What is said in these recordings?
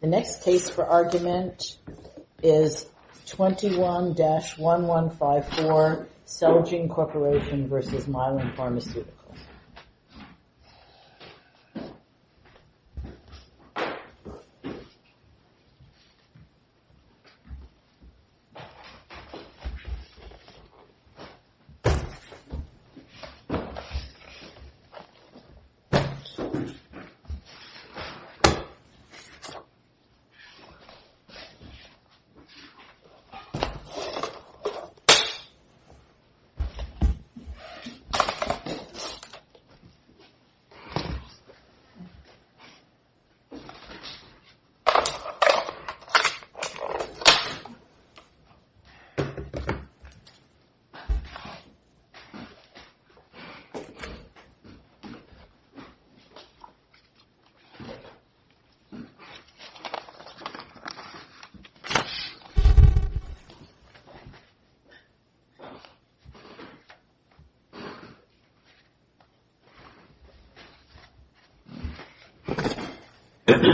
The next case for argument is 21-1154 Selgene Corporation v. Mylan Pharmaceuticals. The next case for argument is 21-1154 Selgene Corporation v. Mylan Pharmaceuticals. Good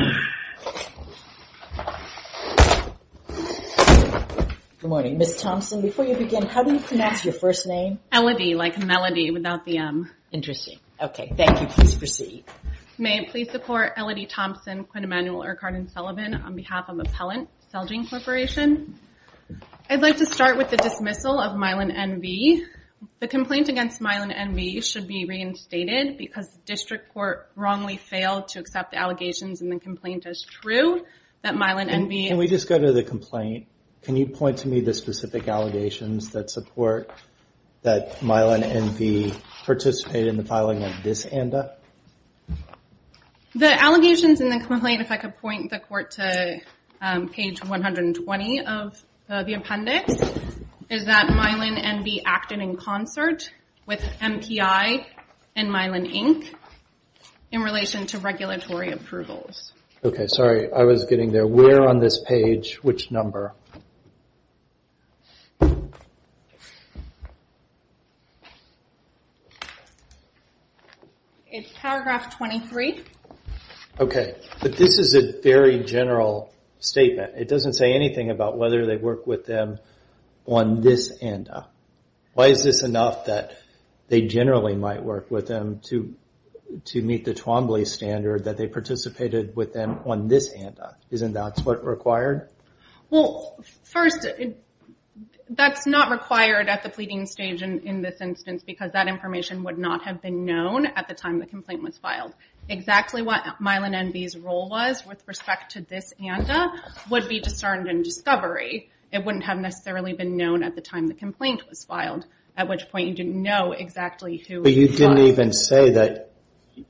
morning, Ms. Thompson, before you begin, how do you pronounce your first name? Elodie, like a melody without the M. Interesting. OK, thank you, please proceed. May it please the court, Elodie Thompson, Quinn Emanuel, Irk Hardin-Sullivan, on behalf of Appellant Celgene Corporation. I'd like to start with the dismissal of Milan N.V. The complaint against Milan N.V. should be reinstated because the district court wrongly failed to accept the allegations in the complaint as true. Can we just go to the complaint? Can you point to me the specific allegations that support that Milan N.V. participated in the filing of this ANDA? The allegations in the complaint, if I could point the court to page 120 of the appendix, is that Milan N.V. acted in concert with MPI and Milan Inc. in relation to regulatory approvals. OK, sorry, I was getting there. Where on this page, which number? It's paragraph 23. OK, but this is a very general statement. It doesn't say anything about whether they worked with them on this ANDA. Why is this enough that they generally might work with them to meet the Twombly standard that they participated with them on this ANDA? Isn't that what's required? Well, first, that's not required at the pleading stage in this instance, because that information would not have been known at the time the complaint was filed. Exactly what Milan N.V.'s role was with respect to this ANDA would be discerned in discovery. It wouldn't have necessarily been known at the time the complaint was filed, at which point you didn't know exactly who filed it. But you didn't even say that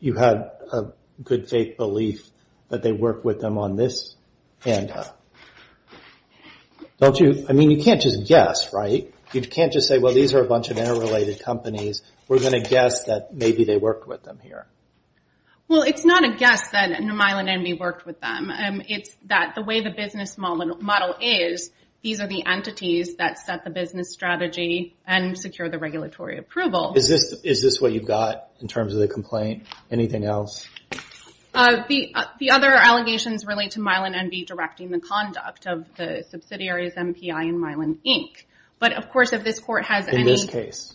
you had a good faith belief that they worked with them on this ANDA. I mean, you can't just guess, right? You can't just say, well, these are a bunch of interrelated companies. We're going to guess that maybe they worked with them here. Well, it's not a guess that Milan N.V. worked with them. It's that the way the business model is, these are the entities that set the business strategy and secure the regulatory approval. Is this what you've got in terms of the complaint? Anything else? The other allegations relate to Milan N.V. directing the conduct of the subsidiaries MPI and Milan Inc. In this case?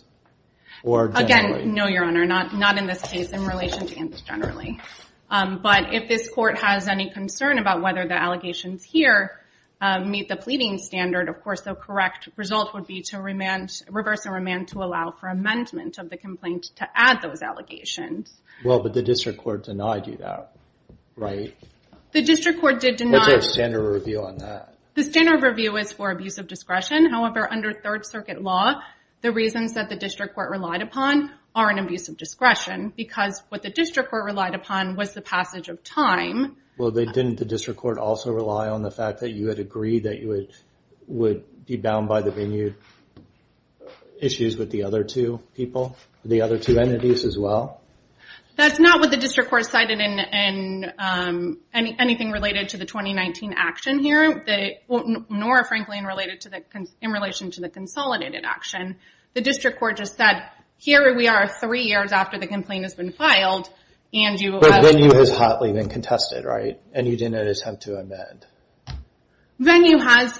Or generally? Again, no, Your Honor, not in this case in relation to ANDA generally. But if this court has any concern about whether the allegations here meet the pleading standard, of course, the correct result would be to reverse and remand to allow for amendment of the complaint to add those allegations. Well, but the district court denied you that, right? What's their standard review on that? The standard review is for abuse of discretion. However, under Third Circuit law, the reasons that the district court relied upon are an abuse of discretion because what the district court relied upon was the passage of time. Well, didn't the district court also rely on the fact that you had agreed that you would be bound by the venue issues with the other two people, the other two entities as well? That's not what the district court cited in anything related to the 2019 action here, nor, frankly, in relation to the consolidated action. The district court just said, here we are three years after the complaint has been filed. But venue has hotly been contested, right? And you didn't notice how to amend? Venue has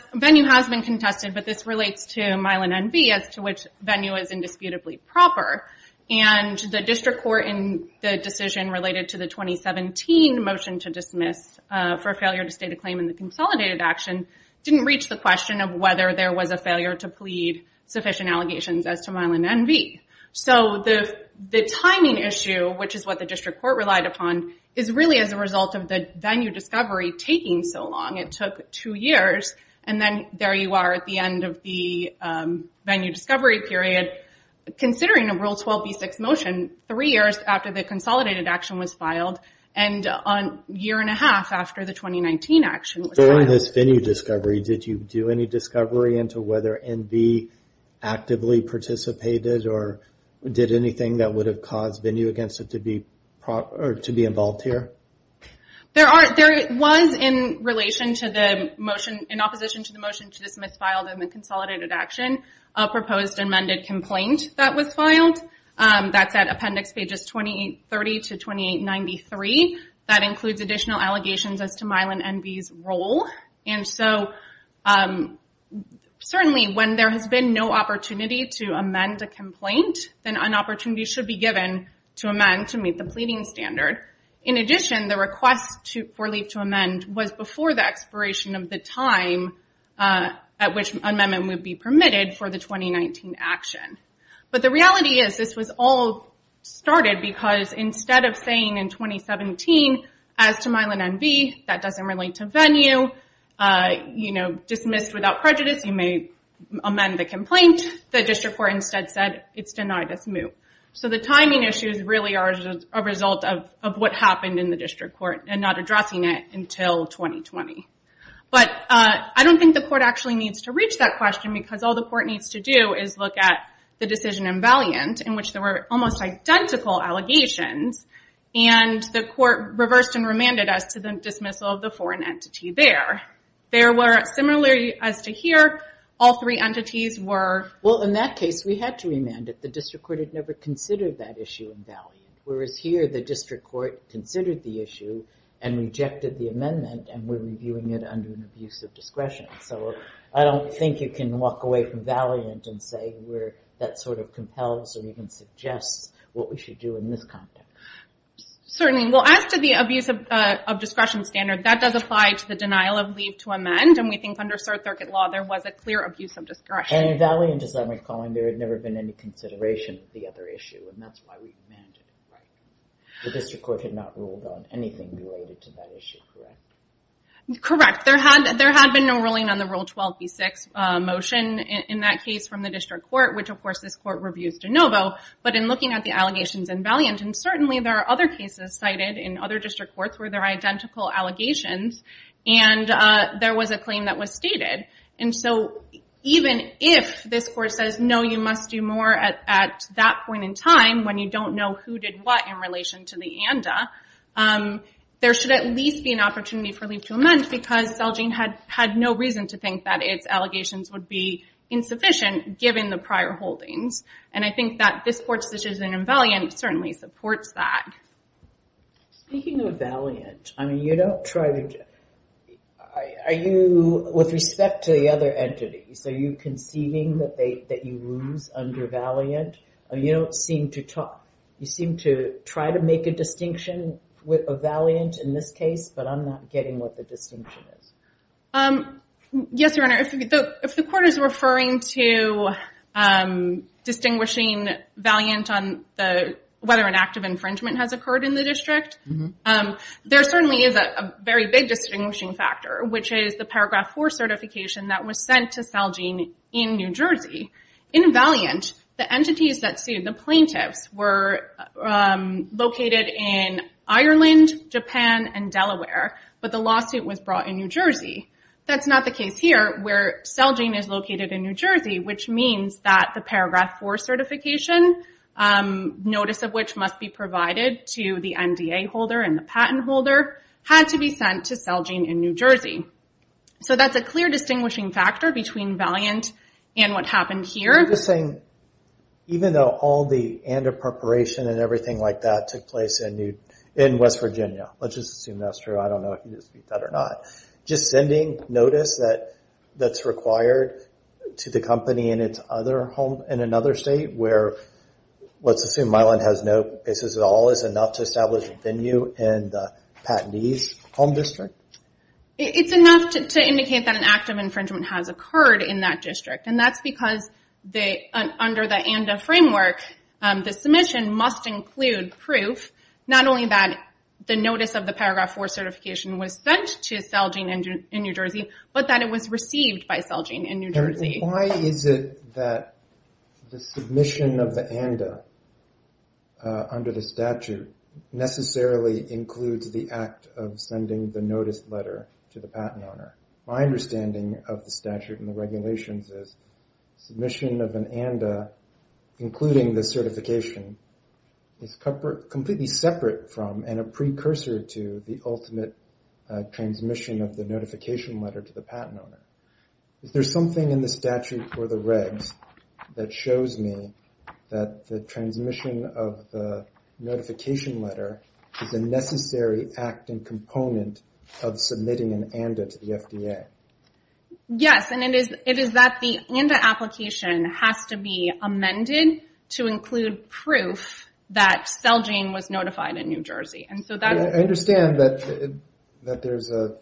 been contested, but this relates to Milan N.V. as to which venue is indisputably proper. And the district court in the decision related to the 2017 motion to dismiss for failure to state a claim in the consolidated action didn't reach the question of whether there was a failure to plead sufficient allegations as to Milan N.V. So the timing issue, which is what the district court relied upon, is really as a result of the venue discovery taking so long. It took two years, and then there you are at the end of the venue discovery period considering a Rule 12b6 motion three years after the consolidated action was filed and a year and a half after the 2019 action was filed. During this venue discovery, did you do any discovery into whether N.V. actively participated or did anything that would have caused venue against it to be involved here? There was, in opposition to the motion to dismiss filed in the consolidated action, a proposed amended complaint that was filed. That's at appendix pages 20, 30 to 2893. That includes additional allegations as to Milan N.V.'s role. And so certainly when there has been no opportunity to amend a complaint, then an opportunity should be given to amend to meet the pleading standard. In addition, the request for leave to amend was before the expiration of the time at which amendment would be permitted for the 2019 action. But the reality is this was all started because instead of saying in 2017, as to Milan N.V., that doesn't relate to venue, you know, dismissed without prejudice, you may amend the complaint, the district court instead said it's denied as moot. So the timing issues really are a result of what happened in the district court and not addressing it until 2020. But I don't think the court actually needs to reach that question because all the court needs to do is look at the decision in Valiant in which there were almost identical allegations and the court reversed and remanded as to the dismissal of the foreign entity there. There were, similarly as to here, all three entities were... Well, in that case, we had to remand it. The district court had never considered that issue in Valiant. Whereas here, the district court considered the issue and rejected the amendment and we're reviewing it under an abuse of discretion. So I don't think you can walk away from Valiant and say that sort of compels or even suggests what we should do in this context. Certainly. Well, as to the abuse of discretion standard, that does apply to the denial of leave to amend. And we think under circuit law, there was a clear abuse of discretion. And in Valiant, as I'm recalling, there had never been any consideration of the other issue. And that's why we remanded it. The district court had not ruled on anything related to that issue, correct? Correct. There had been no ruling on the Rule 12b-6 motion in that case from the district court, which, of course, this court reviews de novo. But in looking at the allegations in Valiant, and certainly there are other cases cited in other district courts where there are identical allegations and there was a claim that was stated. And so even if this court says, no, you must do more at that point in time when you don't know who did what in relation to the ANDA, there should at least be an opportunity for leave to amend because Celgene had no reason to think that its allegations would be insufficient given the prior holdings. And I think that this court's decision in Valiant certainly supports that. Speaking of Valiant, I mean, you don't try to... Are you, with respect to the other entities, are you conceiving that you lose under Valiant? You don't seem to talk. You seem to try to make a distinction with Valiant in this case, but I'm not getting what the distinction is. Yes, Your Honor. If the court is referring to distinguishing Valiant on whether an act of infringement has occurred in the district, there certainly is a very big distinguishing factor, which is the Paragraph 4 certification that was sent to Celgene in New Jersey. In Valiant, the entities that sued, the plaintiffs, were located in Ireland, Japan, and Delaware, but the lawsuit was brought in New Jersey. That's not the case here where Celgene is located in New Jersey, which means that the Paragraph 4 certification, notice of which must be provided to the MDA holder and the patent holder, had to be sent to Celgene in New Jersey. So that's a clear distinguishing factor between Valiant and what happened here. I'm just saying, even though all the and of preparation and everything like that took place in West Virginia, let's just assume that's true. I don't know if you can speak to that or not. Just sending notice that's required to the company in another state where, let's assume Milan has no cases at all, is enough to establish a venue in the patentee's home district? It's enough to indicate that an act of infringement has occurred in that district, and that's because under the and of framework, the submission must include proof, not only that the notice of the Paragraph 4 certification was sent to Celgene in New Jersey, but that it was received by Celgene in New Jersey. Why is it that the submission of the and of under the statute necessarily includes the act of sending the notice letter to the patent owner? My understanding of the statute and the regulations is submission of an and of including the certification is completely separate from and a precursor to the ultimate transmission of the notification letter to the patent owner. Is there something in the statute or the regs that shows me that the transmission of the notification letter is a necessary act and component of submitting an and of to the FDA? Yes, and it is that the and of application has to be amended to include proof that Celgene was notified in New Jersey. I understand that there's a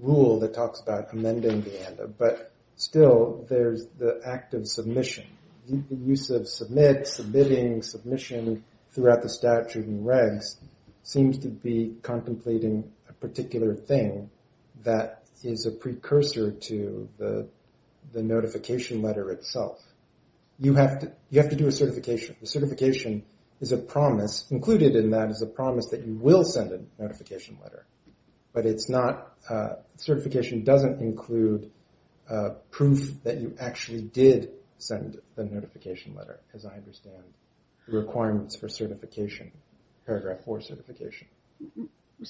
rule that talks about amending the and of, but still there's the act of submission. The use of submit, submitting, submission throughout the statute and regs seems to be contemplating a particular thing that is a precursor to the notification letter itself. You have to do a certification. A certification is a promise. Included in that is a promise that you will send a notification letter, but certification doesn't include proof that you actually did send the notification letter, as I understand, the requirements for certification, Paragraph 4 certification. Am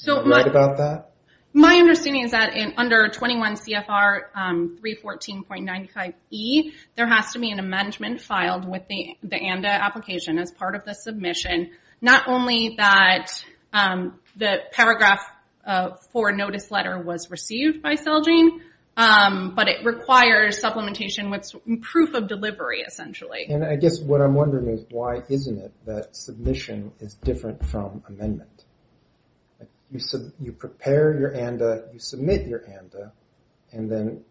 I right about that? My understanding is that under 21 CFR 314.95e, there has to be an amendment filed with the and of application as part of the submission. Not only that the Paragraph 4 notice letter was received by Celgene, but it requires supplementation with proof of delivery, essentially. I guess what I'm wondering is why isn't it that submission is different from amendment? You prepare your and of, you submit your and of,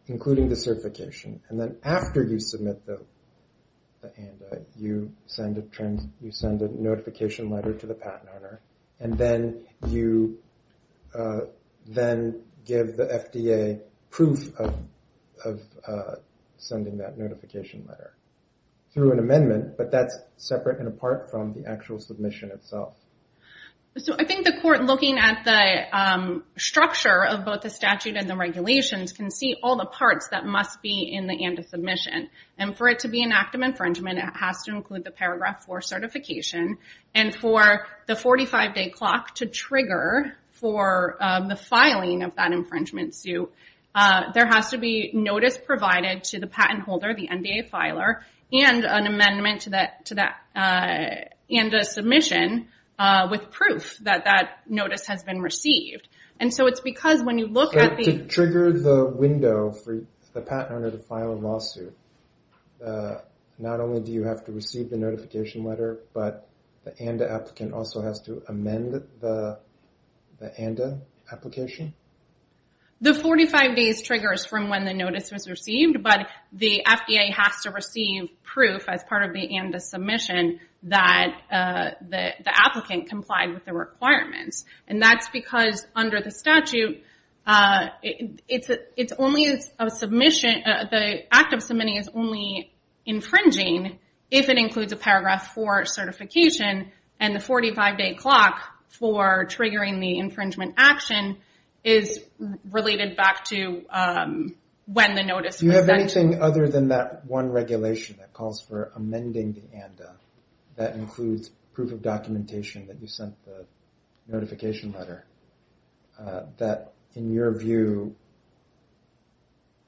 including the certification, and then after you submit the and of, you send a notification letter to the patent owner, and then you give the FDA proof of sending that notification letter through an amendment, but that's separate and apart from the actual submission itself. I think the court, looking at the structure of both the statute and the regulations, can see all the parts that must be in the and of submission. For it to be an act of infringement, it has to include the Paragraph 4 certification. For the 45-day clock to trigger for the filing of that infringement suit, there has to be notice provided to the patent holder, the NDA filer, and an amendment to that and of submission with proof that that notice has been received. To trigger the window for the patent owner to file a lawsuit, not only do you have to receive the notification letter, but the NDA applicant also has to amend the NDA application? The 45 days triggers from when the notice was received, but the FDA has to receive proof as part of the NDA submission that the applicant complied with the requirements. That's because under the statute, the act of submitting is only infringing if it includes a Paragraph 4 certification and the 45-day clock for triggering the infringement action is related back to when the notice was sent. Do you have anything other than that one regulation that calls for amending the NDA that includes proof of documentation that you sent the notification letter that, in your view,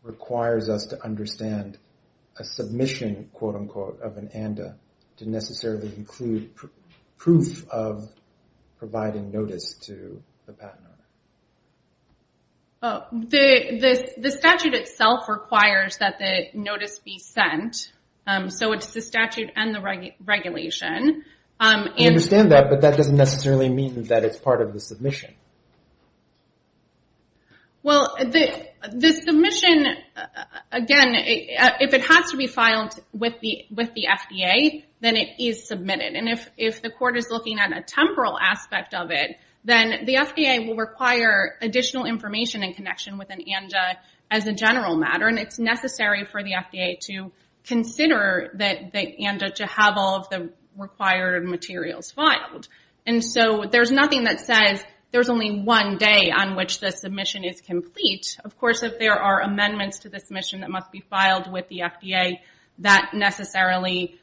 requires us to understand a submission, quote-unquote, of an NDA to necessarily include proof of providing notice to the patent owner? The statute itself requires that the notice be sent, so it's the statute and the regulation. I understand that, but that doesn't necessarily mean that it's part of the submission. Well, the submission, again, if it has to be filed with the FDA, then it is submitted, and if the court is looking at a temporal aspect of it, then the FDA will require additional information in connection with an NDA as a general matter, and it's necessary for the FDA to consider the NDA to have all of the required materials filed. So there's nothing that says there's only one day on which the submission is complete. Of course, if there are amendments to the submission that must be filed with the FDA, that necessarily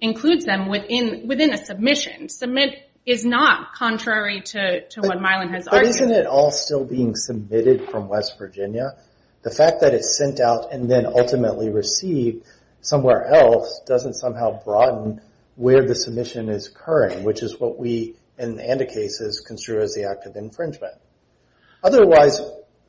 includes them within a submission. Submit is not contrary to what Mylon has argued. But isn't it all still being submitted from West Virginia? The fact that it's sent out and then ultimately received somewhere else doesn't somehow broaden where the submission is occurring, which is what we in NDA cases consider as the act of infringement. Otherwise,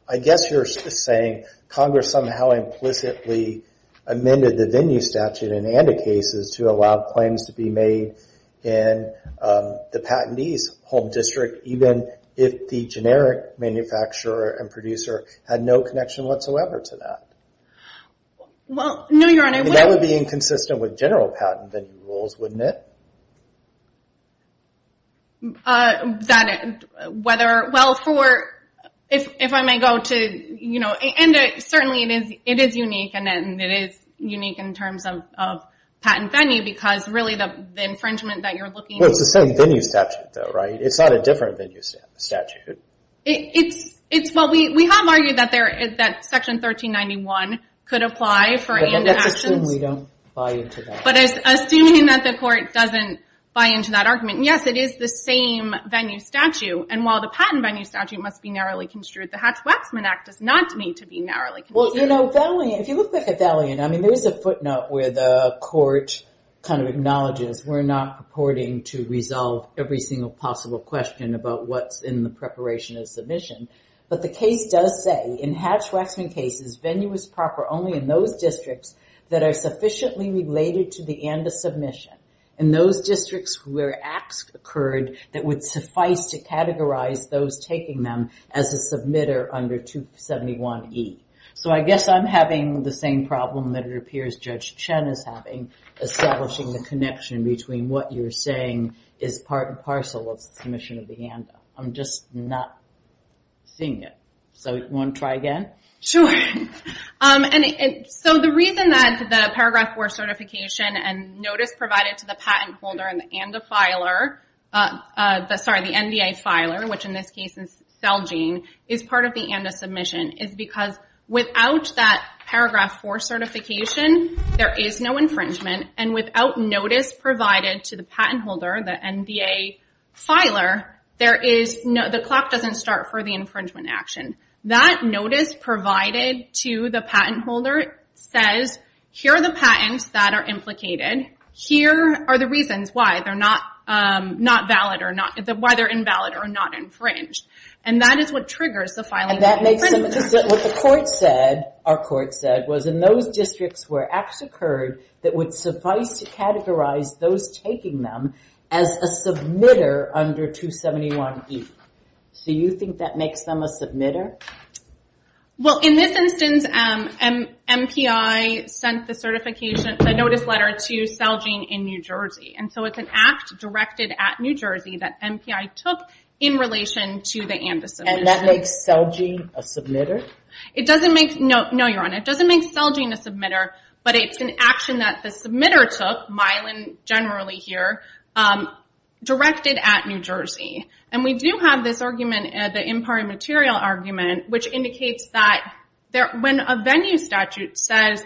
I guess you're saying Congress somehow implicitly amended the venue statute in NDA cases to allow claims to be made in the patentee's home district, even if the generic manufacturer and producer had no connection whatsoever to that? No, Your Honor. That would be inconsistent with general patent rules, wouldn't it? Certainly it is unique, and it is unique in terms of patent venue, because really the infringement that you're looking for... It's the same venue statute, though, right? It's not a different venue statute. We have argued that Section 1391 could apply for NDA actions. That's assuming we don't buy into that. Assuming that the court doesn't buy into that argument. Yes, it is the same venue statute, and while the patent venue statute must be narrowly construed, the Hatch-Waxman Act does not need to be narrowly construed. If you look back at Valiant, there is a footnote where the court acknowledges we're not purporting to resolve every single possible question about what's in the preparation of submission, but the case does say, in Hatch-Waxman cases, venue is proper only in those districts that are sufficiently related to the NDA submission, and those districts where acts occurred that would suffice to categorize those taking them as a submitter under 271E. So I guess I'm having the same problem that it appears Judge Chen is having, establishing the connection between what you're saying is part and parcel of the submission of the NDA. I'm just not seeing it. So you want to try again? Sure. So the reason that the Paragraph 4 certification and notice provided to the patent holder and the NDA filer, which in this case is Celgene, is part of the NDA submission, is because without that Paragraph 4 certification, there is no infringement, and without notice provided to the patent holder, the NDA filer, the clock doesn't start for the infringement action. That notice provided to the patent holder says, here are the patents that are implicated. Here are the reasons why they're invalid or not infringed. And that is what triggers the filing of infringement. What the court said, our court said, was in those districts where acts occurred that would suffice to categorize those taking them as a submitter under 271E. Do you think that makes them a submitter? Well, in this instance, MPI sent the certification, the notice letter to Celgene in New Jersey. And so it's an act directed at New Jersey that MPI took in relation to the NDA submission. And that makes Celgene a submitter? No, Your Honor. It doesn't make Celgene a submitter, but it's an action that the submitter took, Mylan generally here, directed at New Jersey. And we do have this argument, the imparted material argument, which indicates that when a venue statute says,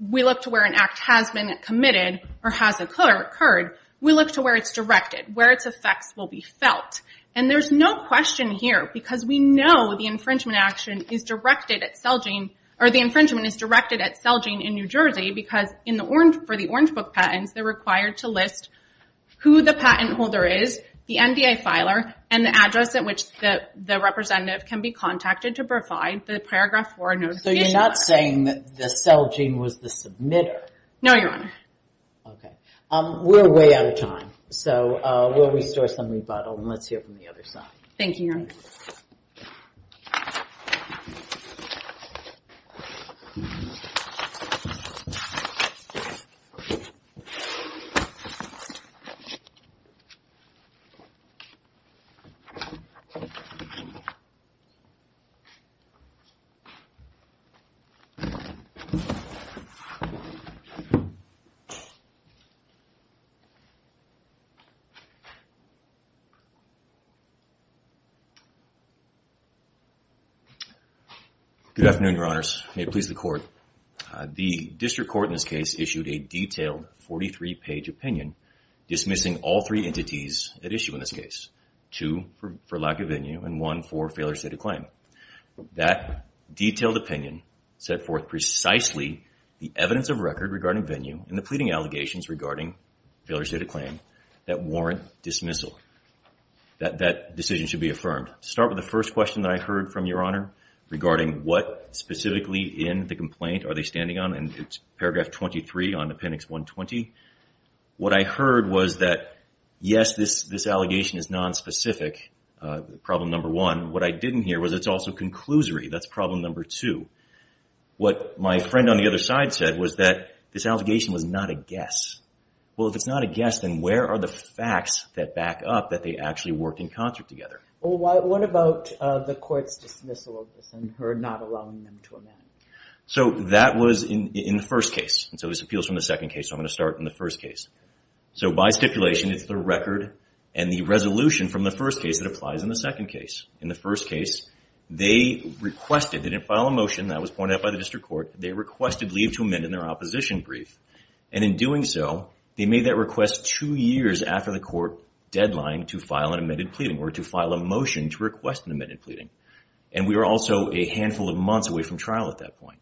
we look to where an act has been committed or has occurred, we look to where it's directed, where its effects will be felt. And there's no question here, because we know the infringement action is directed at Celgene, or the infringement is directed at Celgene in New Jersey, because for the Orange Book patents, they're required to list who the patent holder is, the NDA filer, and the address at which the representative can be contacted to provide the Paragraph 4 notification. So you're not saying that the Celgene was the submitter? No, Your Honor. Okay. We're way out of time. So we'll restore some rebuttal, and let's hear from the other side. Thank you, Your Honor. Good afternoon, Your Honors. May it please the Court. The District Court in this case issued a detailed 43-page opinion, dismissing all three entities at issue in this case, two for lack of venue and one for failure to state a claim. That detailed opinion set forth precisely the evidence of record regarding venue and the pleading allegations regarding failure to state a claim that warrant dismissal. That decision should be affirmed. To start with the first question that I heard from Your Honor, regarding what specifically in the complaint are they standing on, and it's Paragraph 23 on Appendix 120. What I heard was that, yes, this allegation is nonspecific, problem number one. What I didn't hear was it's also conclusory. That's problem number two. What my friend on the other side said was that this allegation was not a guess. Well, if it's not a guess, then where are the facts that back up that they actually worked in concert together? Well, what about the court's dismissal of this and her not allowing them to amend? So that was in the first case. And so this appeals from the second case, so I'm going to start in the first case. So by stipulation, it's the record and the resolution from the first case that applies in the second case. In the first case, they requested, they didn't file a motion, that was pointed out by the district court, they requested leave to amend in their opposition brief. And in doing so, they made that request two years after the court deadline to file an amended pleading, or to file a motion to request an amended pleading. And we were also a handful of months away from trial at that point.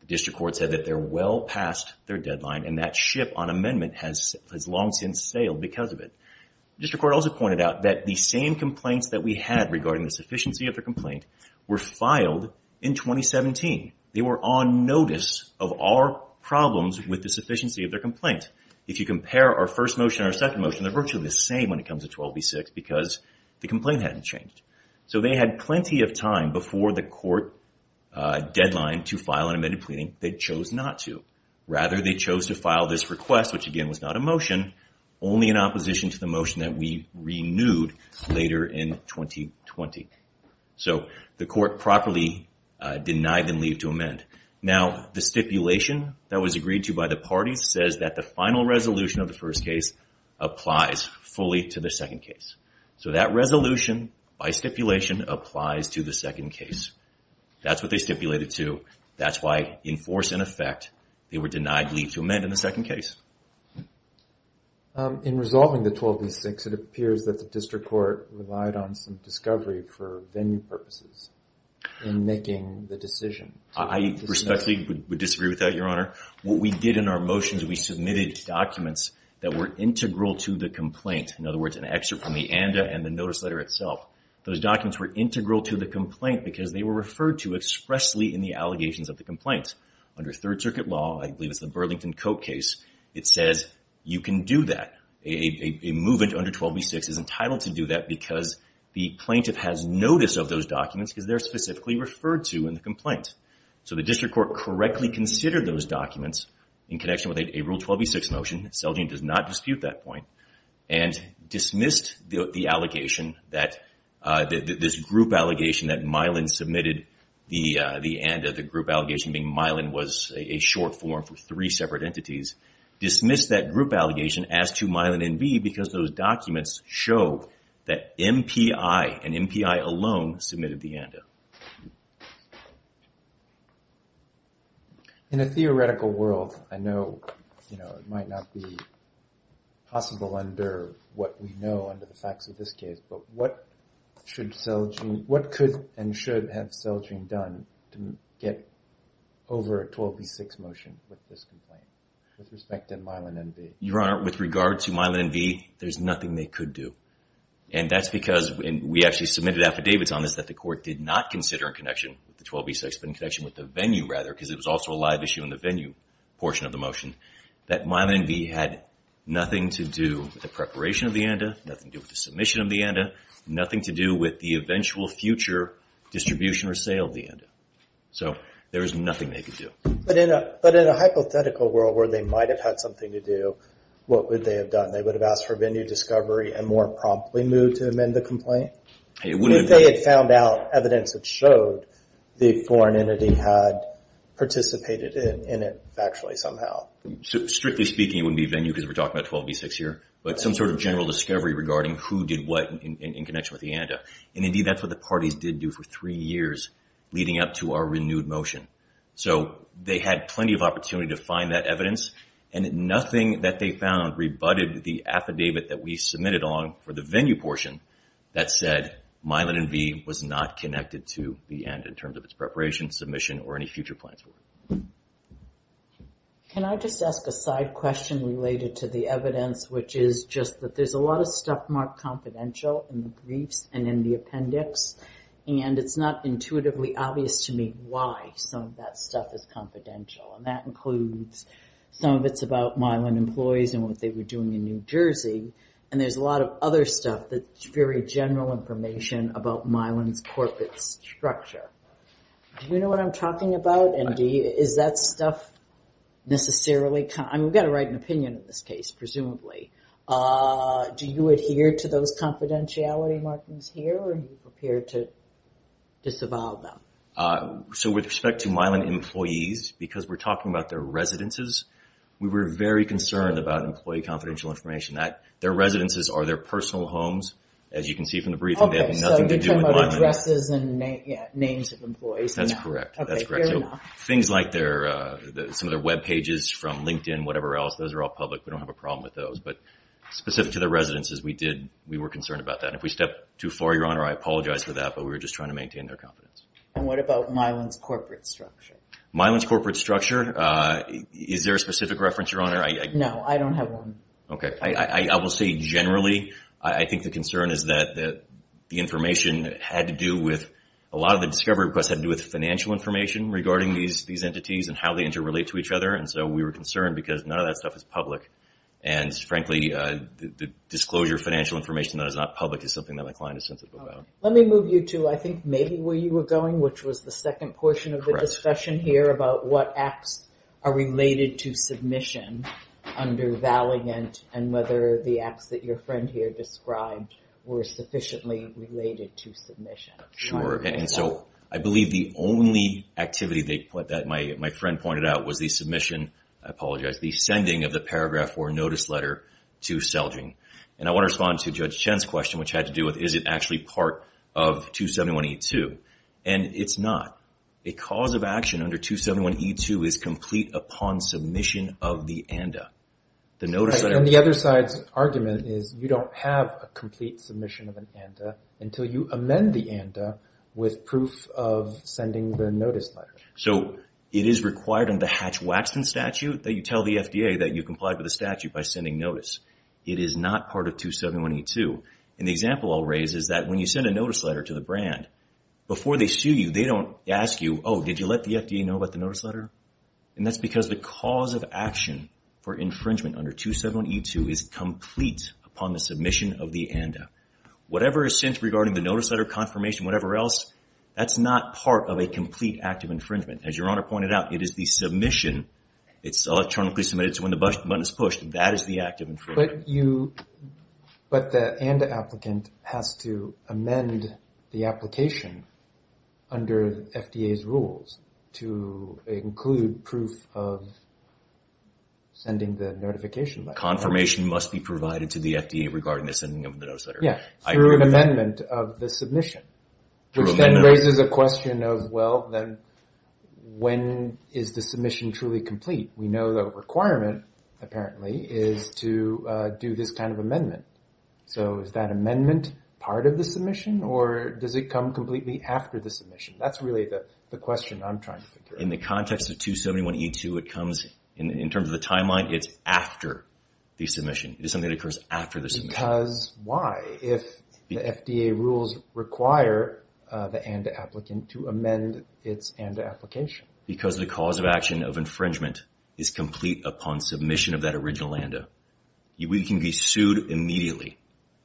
The district court said that they're well past their deadline, and that ship on amendment has long since sailed because of it. District court also pointed out that the same complaints that we had regarding the sufficiency of their complaint were filed in 2017. They were on notice of our problems with the sufficiency of their complaint. If you compare our first motion and our second motion, they're virtually the same when it comes to 12B6 because the complaint hadn't changed. So they had plenty of time before the court deadline to file an amended pleading. They chose not to. Only in opposition to the motion that we renewed later in 2020. So the court properly denied them leave to amend. Now, the stipulation that was agreed to by the parties says that the final resolution of the first case applies fully to the second case. So that resolution, by stipulation, applies to the second case. That's what they stipulated to. That's why, in force and effect, they were denied leave to amend in the second case. In resolving the 12B6, it appears that the district court relied on some discovery for venue purposes in making the decision. I respectfully would disagree with that, Your Honor. What we did in our motions, we submitted documents that were integral to the complaint. In other words, an excerpt from the ANDA and the notice letter itself. Those documents were integral to the complaint because they were referred to expressly in the allegations of the complaint. Under Third Circuit law, I believe it's the Burlington Cope case, it says you can do that. A movement under 12B6 is entitled to do that because the plaintiff has notice of those documents because they're specifically referred to in the complaint. So the district court correctly considered those documents in connection with a Rule 12B6 motion. Selgin does not dispute that point. And dismissed the group allegation that Mylan submitted the ANDA. The group allegation being Mylan was a short form for three separate entities. Dismissed that group allegation as to Mylan and B because those documents show that MPI and MPI alone submitted the ANDA. In a theoretical world, I know it might not be possible under what we know under the facts of this case, but what could and should have Selgin done to get over a 12B6 motion with this complaint with respect to Mylan and B? Your Honor, with regard to Mylan and B, there's nothing they could do. And that's because we actually submitted affidavits on this that the court did not consider in connection with the 12B6, but in connection with the venue rather, because it was also a live issue in the venue portion of the motion, that Mylan and B had nothing to do with the preparation of the ANDA, nothing to do with the submission of the ANDA, nothing to do with the eventual future distribution or sale of the ANDA. So there is nothing they could do. But in a hypothetical world where they might have had something to do, what would they have done? If they had found out evidence that showed the foreign entity had participated in it factually somehow. Strictly speaking, it wouldn't be venue because we're talking about 12B6 here, but some sort of general discovery regarding who did what in connection with the ANDA. And, indeed, that's what the parties did do for three years leading up to our renewed motion. So they had plenty of opportunity to find that evidence, and nothing that they found rebutted the affidavit that we submitted on for the venue portion that said Mylan and B was not connected to the ANDA in terms of its preparation, submission, or any future plans for it. Can I just ask a side question related to the evidence, which is just that there's a lot of stuff marked confidential in the briefs and in the appendix, and it's not intuitively obvious to me why some of that stuff is confidential. And that includes some of it's about Mylan employees and what they were doing in New Jersey, and there's a lot of other stuff that's very general information about Mylan's corporate structure. Do you know what I'm talking about, Andy? Is that stuff necessarily kind of – I mean, we've got to write an opinion in this case, presumably. Do you adhere to those confidentiality markings here, or are you prepared to disavow them? So with respect to Mylan employees, because we're talking about their residences, we were very concerned about employee confidential information. Their residences are their personal homes, as you can see from the brief, and they have nothing to do with Mylan. Okay, so you're talking about addresses and names of employees. That's correct. So things like some of their webpages from LinkedIn, whatever else, those are all public. We don't have a problem with those. But specific to their residences, we were concerned about that. And if we stepped too far, Your Honor, I apologize for that, but we were just trying to maintain their confidence. And what about Mylan's corporate structure? Mylan's corporate structure, is there a specific reference, Your Honor? No, I don't have one. Okay. I will say, generally, I think the concern is that the information had to do with – a lot of the discovery requests had to do with financial information regarding these entities and how they interrelate to each other. And so we were concerned because none of that stuff is public. And, frankly, the disclosure of financial information that is not public is something that my client is sensitive about. Let me move you to, I think, maybe where you were going, which was the second portion of the discussion here about what acts are related to submission under Valiant and whether the acts that your friend here described were sufficiently related to submission. Sure. And so I believe the only activity that my friend pointed out was the submission – I apologize – the sending of the Paragraph 4 notice letter to Selging. And I want to respond to Judge Chen's question, which had to do with, is it actually part of 271A2? And it's not. A cause of action under 271A2 is complete upon submission of the ANDA. And the other side's argument is you don't have a complete submission of an ANDA until you amend the ANDA with proof of sending the notice letter. So it is required under the Hatch-Waxton statute that you tell the FDA that you complied with the statute by sending notice. It is not part of 271A2. And the example I'll raise is that when you send a notice letter to the brand, before they sue you, they don't ask you, oh, did you let the FDA know about the notice letter? And that's because the cause of action for infringement under 271A2 is complete upon the submission of the ANDA. Whatever is sent regarding the notice letter confirmation, whatever else, that's not part of a complete act of infringement. As Your Honor pointed out, it is the submission. It's electronically submitted, so when the button is pushed, that is the act of infringement. But the ANDA applicant has to amend the application under FDA's rules to include proof of sending the notification letter. Confirmation must be provided to the FDA regarding the sending of the notice letter. Yeah, through an amendment of the submission. Which then raises a question of, well, then when is the submission truly complete? We know the requirement, apparently, is to do this kind of amendment. So is that amendment part of the submission, or does it come completely after the submission? That's really the question I'm trying to figure out. In the context of 271A2, it comes, in terms of the timeline, it's after the submission. It is something that occurs after the submission. Because why? If the FDA rules require the ANDA applicant to amend its ANDA application. Because the cause of action of infringement is complete upon submission of that original ANDA. We can be sued immediately,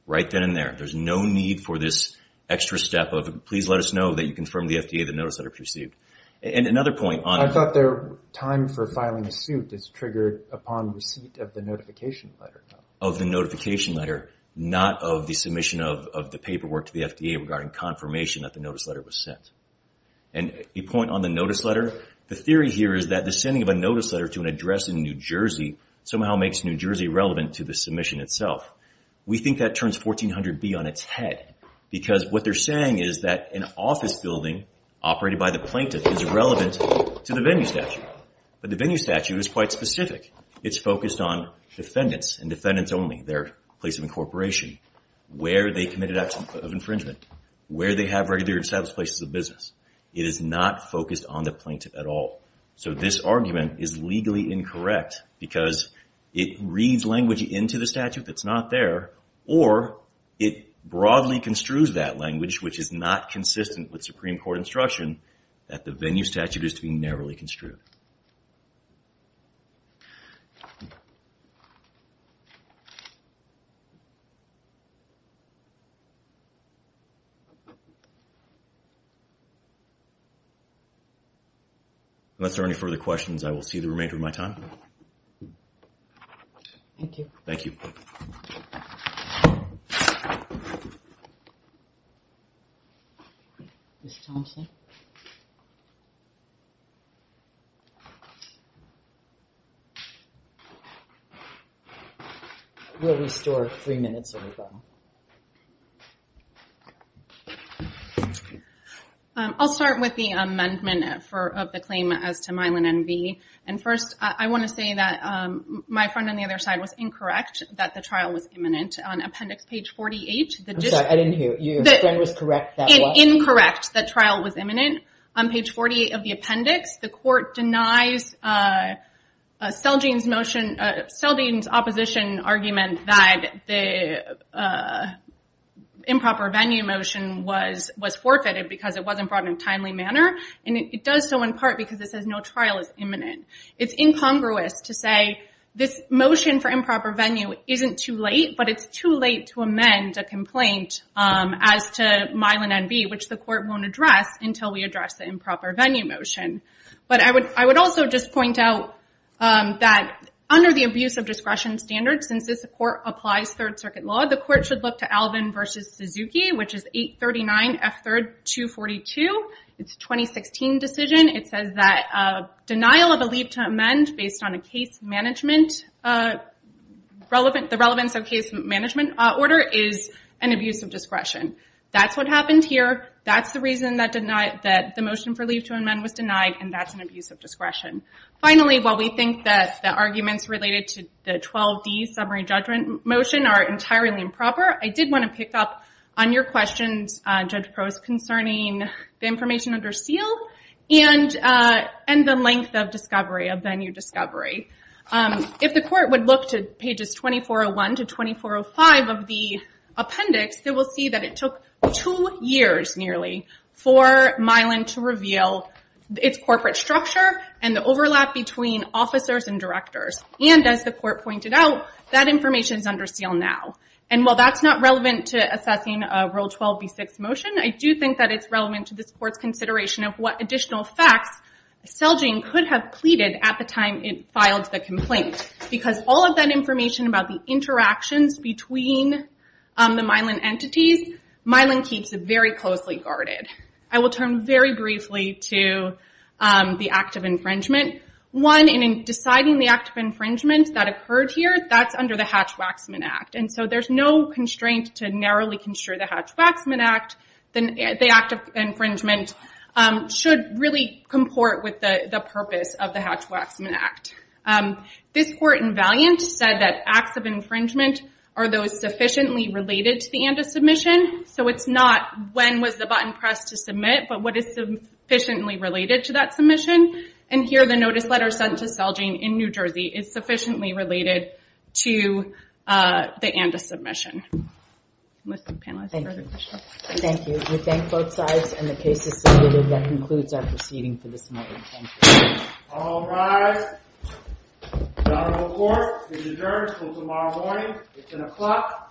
right then and there. There's no need for this extra step of, please let us know that you confirmed the FDA that the notice letter was received. And another point on... I thought their time for filing a suit is triggered upon receipt of the notification letter. Of the notification letter, not of the submission of the paperwork to the FDA regarding confirmation that the notice letter was sent. And a point on the notice letter, the theory here is that the sending of a notice letter to an address in New Jersey somehow makes New Jersey relevant to the submission itself. We think that turns 1400B on its head. Because what they're saying is that an office building operated by the plaintiff is relevant to the venue statute. But the venue statute is quite specific. It's focused on defendants and defendants only, their place of incorporation, where they committed acts of infringement, where they have regular established places of business. It is not focused on the plaintiff at all. So this argument is legally incorrect because it reads language into the statute that's not there, or it broadly construes that language, which is not consistent with Supreme Court instruction, that the venue statute is to be narrowly construed. Unless there are any further questions, I will see the remainder of my time. Thank you. Thank you. Ms. Thompson? We'll restore three minutes, everybody. Ms. Thompson? I'll start with the amendment of the claim as to Milan NV. And first, I want to say that my friend on the other side was incorrect, that the trial was imminent. On appendix page 48, the district... I'm sorry, I didn't hear. Your friend was correct, that was? Incorrect, that trial was imminent. On page 48 of the appendix, the court denies Seldene's opposition argument that the improper venue motion was forfeited because it wasn't brought in a timely manner. And it does so in part because it says no trial is imminent. It's incongruous to say this motion for improper venue isn't too late, but it's too late to amend a complaint as to Milan NV, which the court won't address until we address the improper venue motion. But I would also just point out that under the abuse of discretion standard, since this court applies third circuit law, the court should look to Alvin v. Suzuki, which is 839F3242. It's a 2016 decision. It says that denial of a leave to amend based on the relevance of case management order is an abuse of discretion. That's what happened here. That's the reason that the motion for leave to amend was denied, and that's an abuse of discretion. Finally, while we think that the arguments related to the 12D summary judgment motion are entirely improper, I did want to pick up on your questions, Judge Probst, concerning the information under seal and the length of discovery, of venue discovery. If the court would look to pages 2401 to 2405 of the appendix, they will see that it took two years nearly for Milan to reveal its corporate structure and the overlap between officers and directors. And as the court pointed out, that information is under seal now. And while that's not relevant to assessing a Rule 12b6 motion, I do think that it's relevant to this court's consideration of what additional facts Selgin could have pleaded at the time it filed the complaint, because all of that information about the interactions between the Milan entities, Milan keeps very closely guarded. I will turn very briefly to the act of infringement. One, in deciding the act of infringement that occurred here, that's under the Hatch-Waxman Act. And so there's no constraint to narrowly construe the Hatch-Waxman Act. The act of infringement should really comport with the purpose of the Hatch-Waxman Act. This court in Valiant said that acts of infringement are those sufficiently related to the ANDA submission, so it's not when was the button pressed to submit, but what is sufficiently related to that submission. And here are the notice letters sent to Selgin in New Jersey. It's sufficiently related to the ANDA submission. Thank you. We thank both sides, and the case is submitted. That concludes our proceeding for this morning. Thank you. All rise. The honorable court is adjourned until tomorrow morning. It's an o'clock a.m.